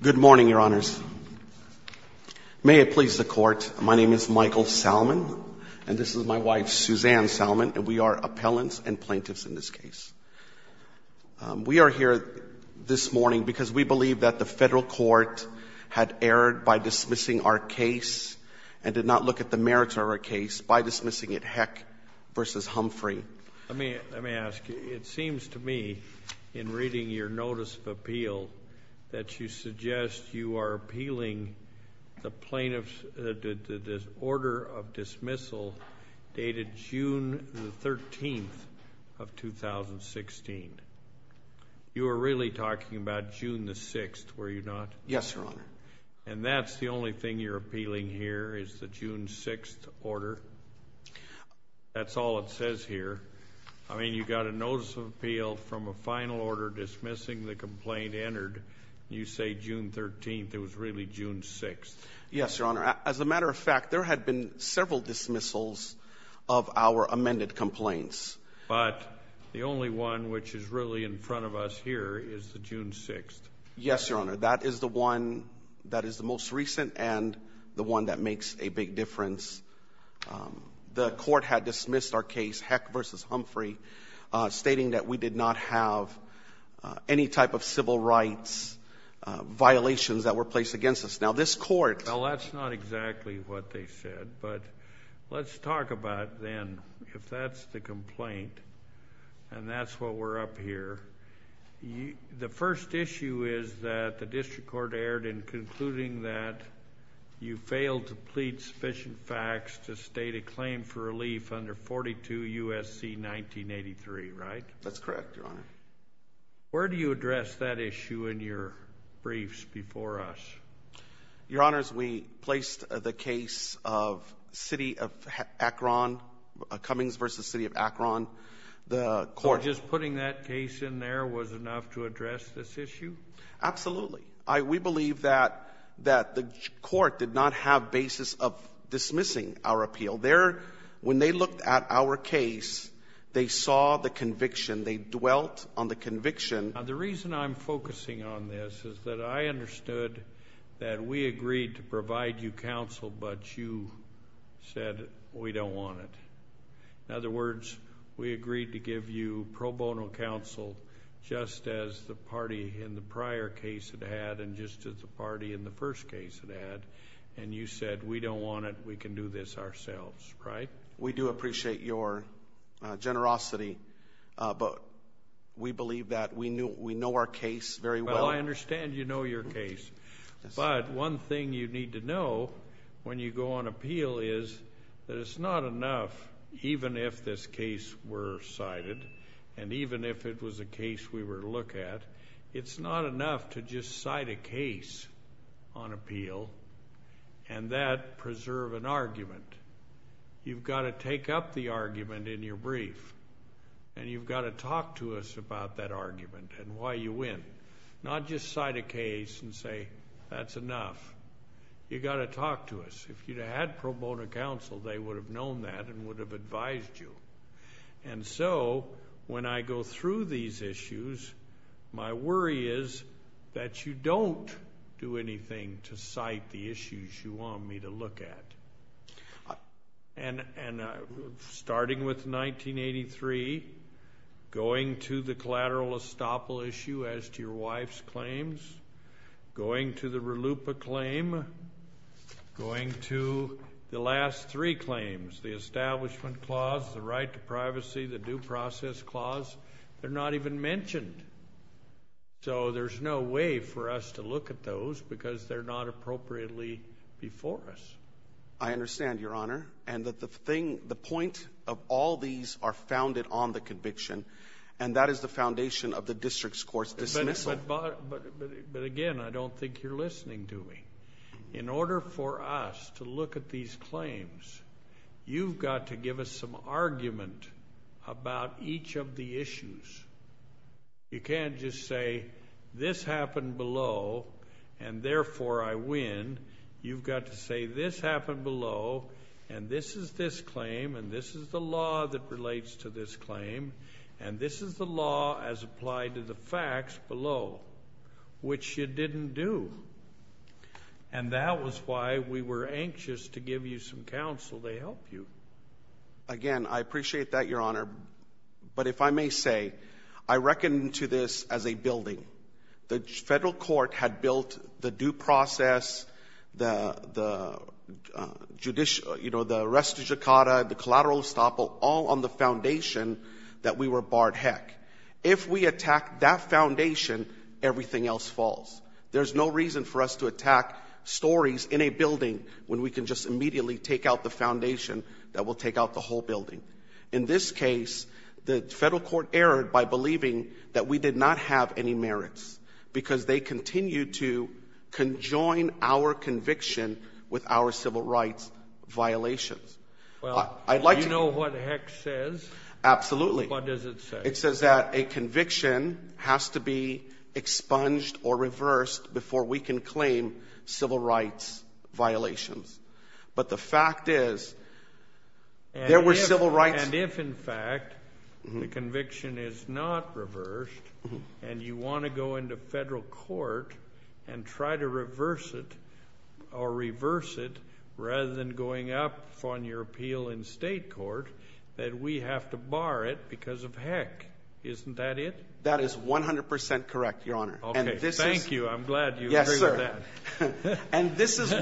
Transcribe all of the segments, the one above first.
Good morning, your honors. May it please the court, my name is Michael Salman and this is my wife, Suzanne Salman, and we are appellants and plaintiffs in this case. We are here this morning because we believe that the federal court had erred by dismissing our case and did not look at the merits of our case by dismissing it Heck v. Humphrey. Let me ask you, it seems to me in reading your notice of appeal that you suggest you are appealing the order of dismissal dated June the 13th of 2016. You were really talking about June the 6th, were you not? Yes, your honor. And that's the only thing you're appealing here, is the June 6th order? That's all it says here. I mean, you got a notice of appeal from a final order dismissing the complaint entered, you say June 13th, it was really June 6th. Yes, your honor. As a matter of fact, there had been several dismissals of our amended complaints. But the only one which is really in front of us here is the June 6th. Yes, your honor. That is the one that is the most recent and the one that makes a big difference. The court had dismissed our case, Heck v. Humphrey, stating that we did not have any type of civil rights violations that were placed against us. Now this court... Well, that's not exactly what they said, but let's talk about then if that's the complaint and that's what we're up here. The first issue is that the district court erred in concluding that you failed to plead sufficient facts to state a claim for relief under 42 U.S.C. 1983, right? That's correct, your honor. Where do you address that issue in your briefs before us? Your honors, we placed the case of Cummings v. City of Akron. So just putting that case in there was enough to address this issue? Absolutely. We believe that the court did not have basis of dismissing our appeal. When they looked at our case, they saw the conviction. They dwelt on the conviction. The reason I'm focusing on this is that I understood that we agreed to provide you counsel, but you said we don't want it. In other words, we agreed to give you pro bono counsel just as the party in the prior case had had and just as the party in the first case had had, and you said we don't want it, we can do this ourselves, right? We do appreciate your generosity, but we believe that we know our case very well. Well, I understand you know your case, but one thing you need to know when you go on appeal is that it's not enough, even if this case were cited and even if it was a case we were to look at, it's not enough to just cite a case on appeal and that preserve an argument. You've got to take up the argument in your brief, and you've got to talk to us about that argument and why you win, not just cite a case and say that's enough. You've got to talk to us. If you'd have had pro bono counsel, they would have known that and would have advised you. And so when I go through these issues, my worry is that you don't do anything to cite the issues you want me to look at. And starting with 1983, going to the collateral estoppel issue as to your wife's claims, going to the RLUIPA claim, going to the last three claims, the establishment clause, the right to privacy, the due process clause, they're not even mentioned. So there's no way for us to look at those because they're not appropriately before us. I understand, Your Honor, and that the point of all these are founded on the conviction, and that is the foundation of the district's course dismissal. But again, I don't think you're listening to me. In order for us to look at these claims, you've got to give us some argument about each of the issues. You can't just say this happened below, and therefore I win. You've got to say this happened below, and this is this claim, and this is the law that relates to this claim, and this is the law as applied to the facts below, which you didn't do. And that was why we were anxious to give you some counsel to help you. Again, I appreciate that, Your Honor, but if I may say, I reckon to this as a building. The federal court had built the due process, the rest of Jakarta, the collateral estoppel, all on the foundation that we were barred heck. If we attack that foundation, everything else falls. There's no reason for us to attack stories in a building when we can just immediately take out the foundation that will take out the whole building. In this case, the federal court erred by believing that we did not have any merits because they continued to conjoin our conviction with our civil rights violations. Well, you know what heck says? Absolutely. What does it say? It says that a conviction has to be expunged or reversed before we can claim civil rights violations. But the fact is there were civil rights. And if in fact the conviction is not reversed and you want to go into federal court and try to reverse it or reverse it rather than going up on your appeal in state court, that we have to bar it because of heck. Isn't that it? That is 100% correct, Your Honor. Thank you. I'm glad you agree with that. Yes, sir. And this is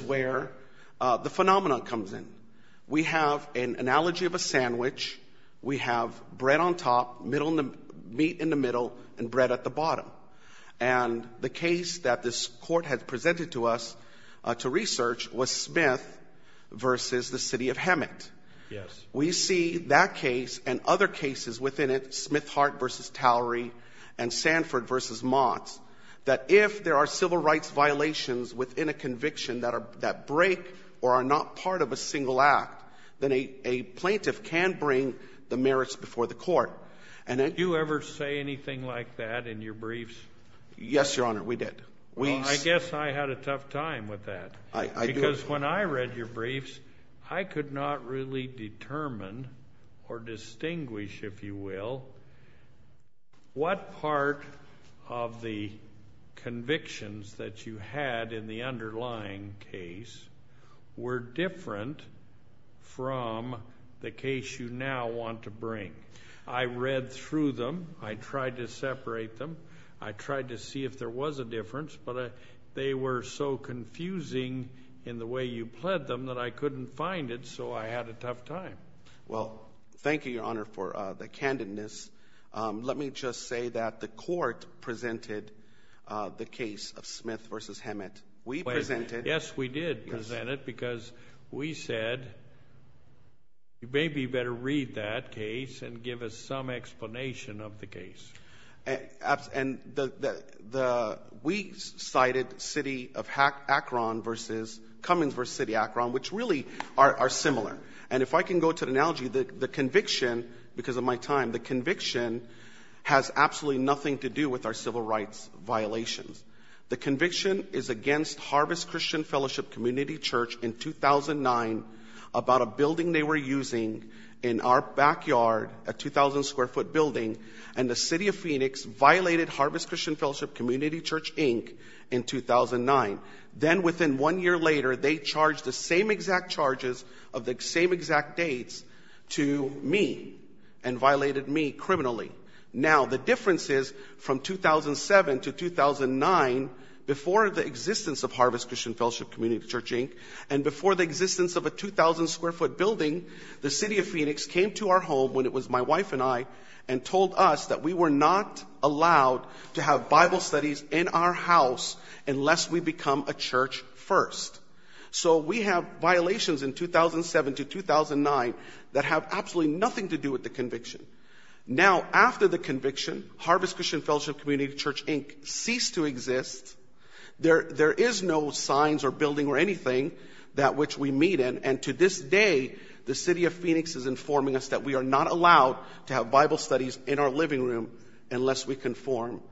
where the phenomenon comes in. We have an analogy of a sandwich. We have bread on top, meat in the middle, and bread at the bottom. And the case that this court had presented to us to research was Smith v. the city of Hemet. Yes. We see that case and other cases within it, Smithhart v. Towery and Sanford v. Motts, that if there are civil rights violations within a conviction that break or are not part of a single act, then a plaintiff can bring the merits before the court. Did you ever say anything like that in your briefs? Yes, Your Honor. We did. I guess I had a tough time with that. I do. Because when I read your briefs, I could not really determine or distinguish, if you will, what part of the convictions that you had in the underlying case were different from the case you now want to bring. I read through them. I tried to separate them. I tried to see if there was a difference, but they were so confusing in the way you pled them that I couldn't find it, so I had a tough time. Well, thank you, Your Honor, for the candidness. Let me just say that the court presented the case of Smith v. Hemet. We presented. Yes, we did present it because we said, you maybe better read that case and give us some explanation of the case. And we cited Cummings v. City of Akron, which really are similar. And if I can go to the analogy, the conviction, because of my time, the conviction has absolutely nothing to do with our civil rights violations. The conviction is against Harvest Christian Fellowship Community Church in 2009 about a building they were using in our backyard, a 2,000-square-foot building, and the City of Phoenix violated Harvest Christian Fellowship Community Church, Inc., in 2009. Then within one year later, they charged the same exact charges of the same exact dates to me and violated me criminally. Now, the difference is from 2007 to 2009, before the existence of Harvest Christian Fellowship Community Church, Inc., and before the existence of a 2,000-square-foot building, the City of Phoenix came to our home when it was my wife and I and told us that we were not allowed to have Bible studies in our house unless we become a church first. So we have violations in 2007 to 2009 that have absolutely nothing to do with the conviction. Now, after the conviction, Harvest Christian Fellowship Community Church, Inc. ceased to exist. There is no signs or building or anything that which we meet in, and to this day, the City of Phoenix is informing us that we are not allowed to have Bible studies in our living room unless we conform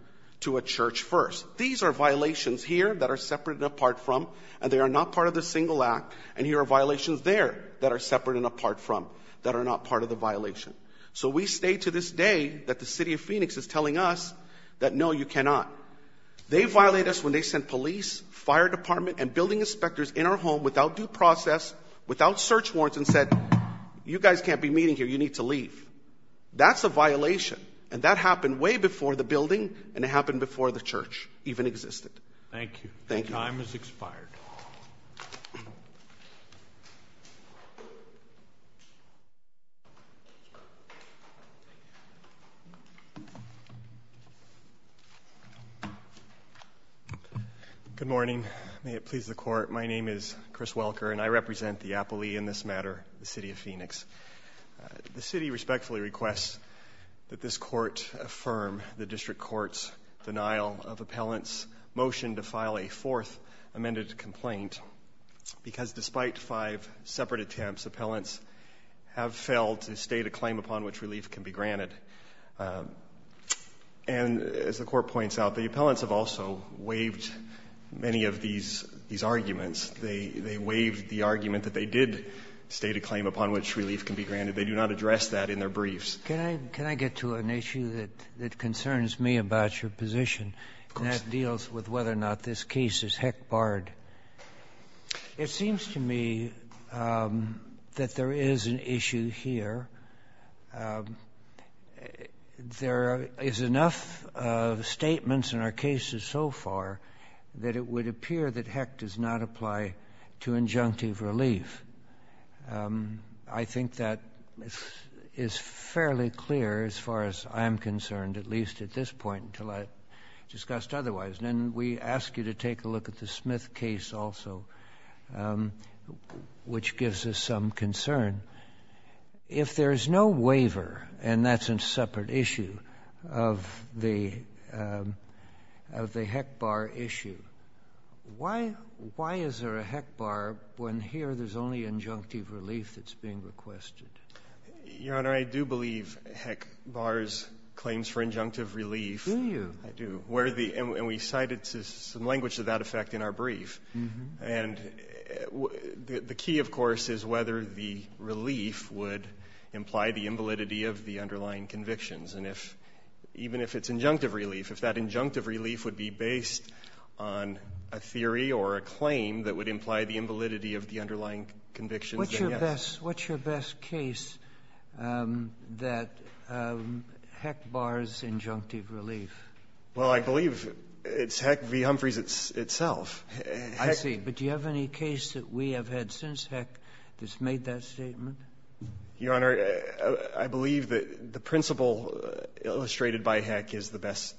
to a church first. These are violations here that are separate and apart from, and they are not part of the single act, and here are violations there that are separate and apart from that are not part of the violation. So we stay to this day that the City of Phoenix is telling us that, no, you cannot. They violate us when they send police, fire department, and building inspectors in our home without due process, without search warrants, and said, you guys can't be meeting here. You need to leave. That's a violation, and that happened way before the building, and it happened before the church even existed. Thank you. Thank you. Your time has expired. Good morning. May it please the Court, my name is Chris Welker, and I represent the Apollee in this matter, the City of Phoenix. The city respectfully requests that this court affirm the district court's denial of appellant's motion to file a fourth amended complaint, because despite five separate attempts, appellants have failed to state a claim upon which relief can be granted. And as the Court points out, the appellants have also waived many of these arguments. They waived the argument that they did state a claim upon which relief can be granted. They do not address that in their briefs. Can I get to an issue that concerns me about your position? Of course. And that deals with whether or not this case is heck barred. It seems to me that there is an issue here. There is enough statements in our cases so far that it would appear that heck does not apply to injunctive relief. I think that is fairly clear as far as I'm concerned, at least at this point, until I discussed otherwise. And we ask you to take a look at the Smith case also, which gives us some concern. If there is no waiver, and that's a separate issue of the heck bar issue, why is there a heck bar when here there's only injunctive relief that's being requested? Your Honor, I do believe heck bars claims for injunctive relief. Do you? I do. And we cited some language to that effect in our brief. And the key, of course, is whether the relief would imply the invalidity of the underlying convictions. And even if it's injunctive relief, if that injunctive relief would be based on a theory or a claim that would imply the invalidity of the underlying convictions, then yes. What's your best case that heck bars injunctive relief? Well, I believe it's heck v. Humphreys itself. I see. But do you have any case that we have had since heck that's made that statement? Your Honor, I believe that the principle illustrated by heck is the best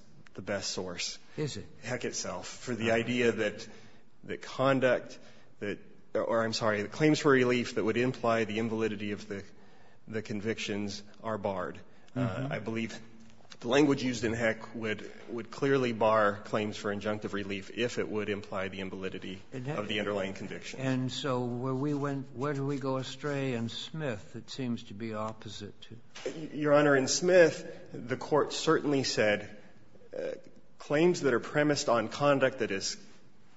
source. Is it? Heck itself, for the idea that the conduct that or, I'm sorry, the claims for relief that would imply the invalidity of the convictions are barred. I believe the language used in heck would clearly bar claims for injunctive relief if it would imply the invalidity of the underlying convictions. And so where we went, where do we go astray in Smith that seems to be opposite to? Your Honor, in Smith, the Court certainly said claims that are premised on conduct that is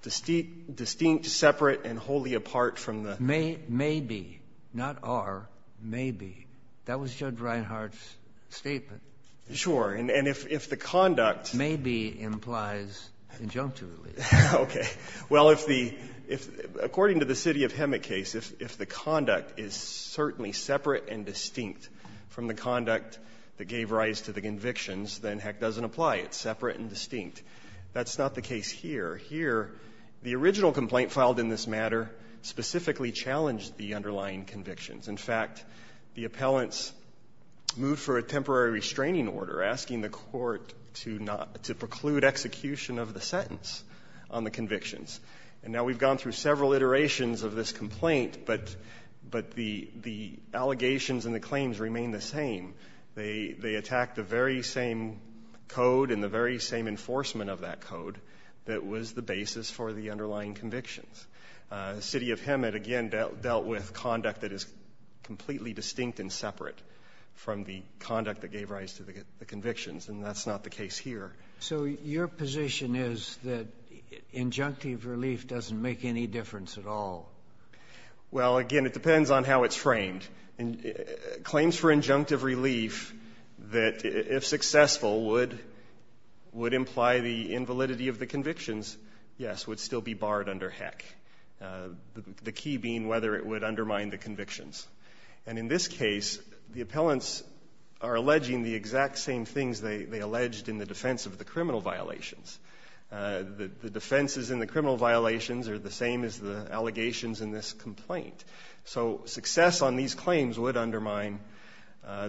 distinct, separate, and wholly apart from the. Maybe, not are, maybe. That was Judge Reinhart's statement. Sure. And if the conduct. Maybe implies injunctive relief. Okay. Well, if the, according to the city of Hemet case, if the conduct is certainly separate and distinct from the conduct that gave rise to the convictions, then heck doesn't apply. It's separate and distinct. That's not the case here. Here, the original complaint filed in this matter specifically challenged the underlying convictions. In fact, the appellants moved for a temporary restraining order asking the Court to not, to preclude execution of the sentence on the convictions. And now we've gone through several iterations of this complaint, but the allegations and the claims remain the same. They attack the very same code and the very same enforcement of that code that was the basis for the underlying convictions. The city of Hemet, again, dealt with conduct that is completely distinct and separate from the conduct that gave rise to the convictions. And that's not the case here. So your position is that injunctive relief doesn't make any difference at all? Well, again, it depends on how it's framed. Claims for injunctive relief that, if successful, would imply the invalidity of the convictions, yes, would still be barred under heck. The key being whether it would undermine the convictions. And in this case, the appellants are alleging the exact same things they alleged in the defense of the criminal violations. The defenses in the criminal violations are the same as the allegations in this complaint. So success on these claims would undermine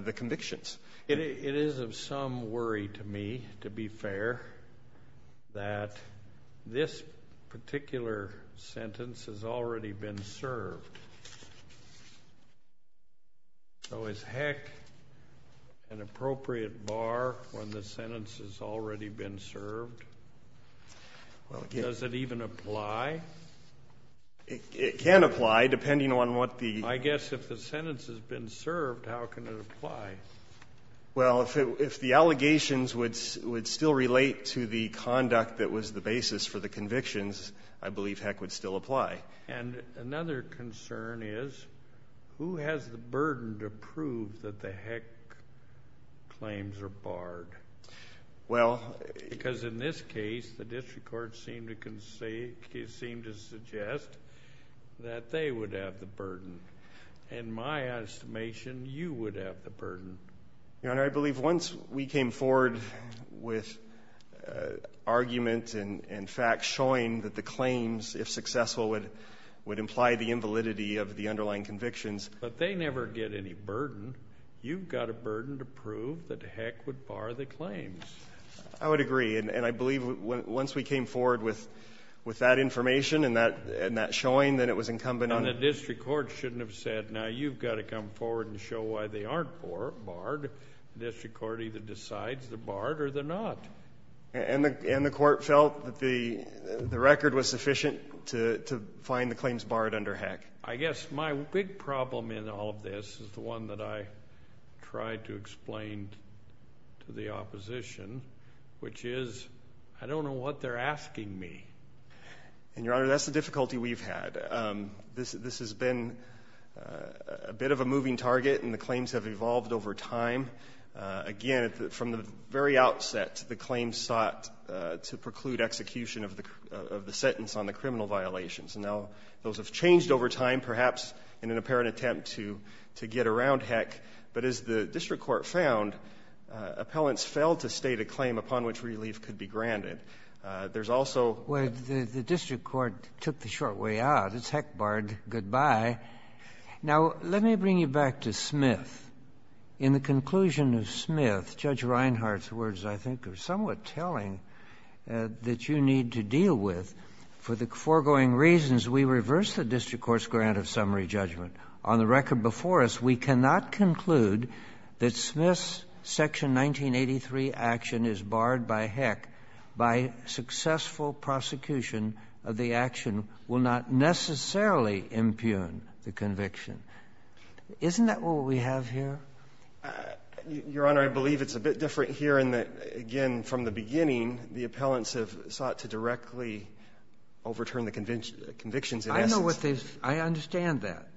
the convictions. It is of some worry to me, to be fair, that this particular sentence has already been served. So is heck an appropriate bar when the sentence has already been served? Does it even apply? It can apply, depending on what the I guess if the sentence has been served, how can it apply? Well, if the allegations would still relate to the conduct that was the basis for the convictions, I believe heck would still apply. And another concern is who has the burden to prove that the heck claims are barred? Because in this case, the district court seemed to suggest that they would have the burden. In my estimation, you would have the burden. Your Honor, I believe once we came forward with arguments and facts showing that the claims, if successful, would imply the invalidity of the underlying convictions But they never get any burden. You've got a burden to prove that heck would bar the claims. I would agree, and I believe once we came forward with that information and that showing that it was incumbent on And the district court shouldn't have said, now you've got to come forward and show why they aren't barred. The district court either decides they're barred or they're not. And the court felt that the record was sufficient to find the claims barred under heck. I guess my big problem in all of this is the one that I tried to explain to the opposition, which is, I don't know what they're asking me. And, Your Honor, that's the difficulty we've had. This has been a bit of a moving target, and the claims have evolved over time. Again, from the very outset, the claims sought to preclude execution of the sentence on the criminal violations. And now those have changed over time, perhaps in an apparent attempt to get around heck. But as the district court found, appellants failed to state a claim upon which relief could be granted. There's also— The district court took the short way out. It's heck barred. Goodbye. Now, let me bring you back to Smith. In the conclusion of Smith, Judge Reinhart's words, I think, are somewhat telling that you need to deal with For the foregoing reasons, we reverse the district court's grant of summary judgment. On the record before us, we cannot conclude that Smith's Section 1983 action is barred by heck by successful prosecution of the action will not necessarily impugn the conviction. Isn't that what we have here? Your Honor, I believe it's a bit different here in that, again, from the beginning, the appellants have sought to directly overturn the convictions in essence. I know what they've—I understand that.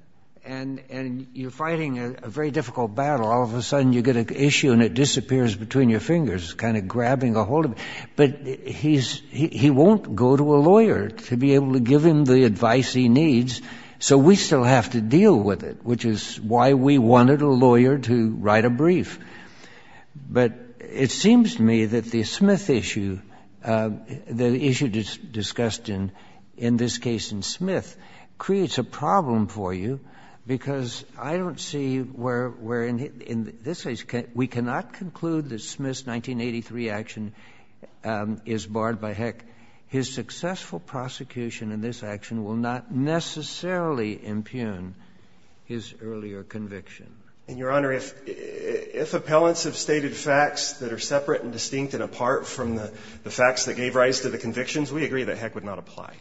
And you're fighting a very difficult battle. All of a sudden, you get an issue and it disappears between your fingers, kind of grabbing ahold of you. But he won't go to a lawyer to be able to give him the advice he needs, so we still have to deal with it, which is why we wanted a lawyer to write a brief. But it seems to me that the Smith issue, the issue discussed in this case in Smith, creates a problem for you because I don't see where, in this case, we cannot conclude that Smith's 1983 action is barred by heck. His successful prosecution in this action will not necessarily impugn his earlier conviction. And, Your Honor, if appellants have stated facts that are separate and distinct and apart from the facts that gave rise to the convictions, we agree that heck would not apply.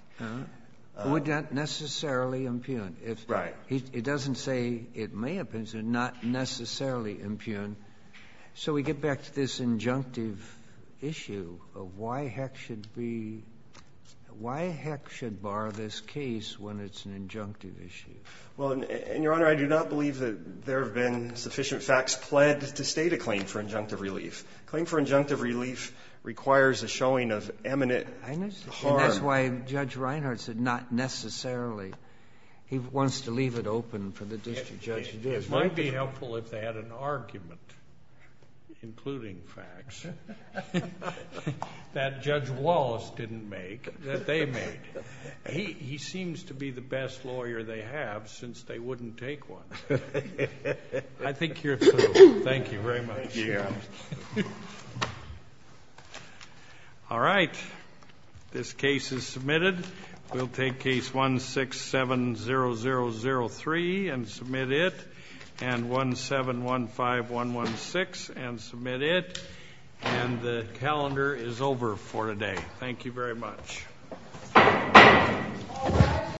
Would not necessarily impugn. Right. It doesn't say it may impugn. It says not necessarily impugn. So we get back to this injunctive issue of why heck should be, why heck should bar this case when it's an injunctive issue. Well, and, Your Honor, I do not believe that there have been sufficient facts pledged to state a claim for injunctive relief. Claim for injunctive relief requires a showing of eminent harm. And that's why Judge Reinhart said not necessarily. He wants to leave it open for the district judge to do it. It might be helpful if they had an argument, including facts, that Judge Wallace didn't make, that they made. He seems to be the best lawyer they have since they wouldn't take one. I think you're too. Thank you very much. Thank you, Your Honor. All right. This case is submitted. We'll take case 167003 and submit it, and 1715116 and submit it. And the calendar is over for today. Thank you very much.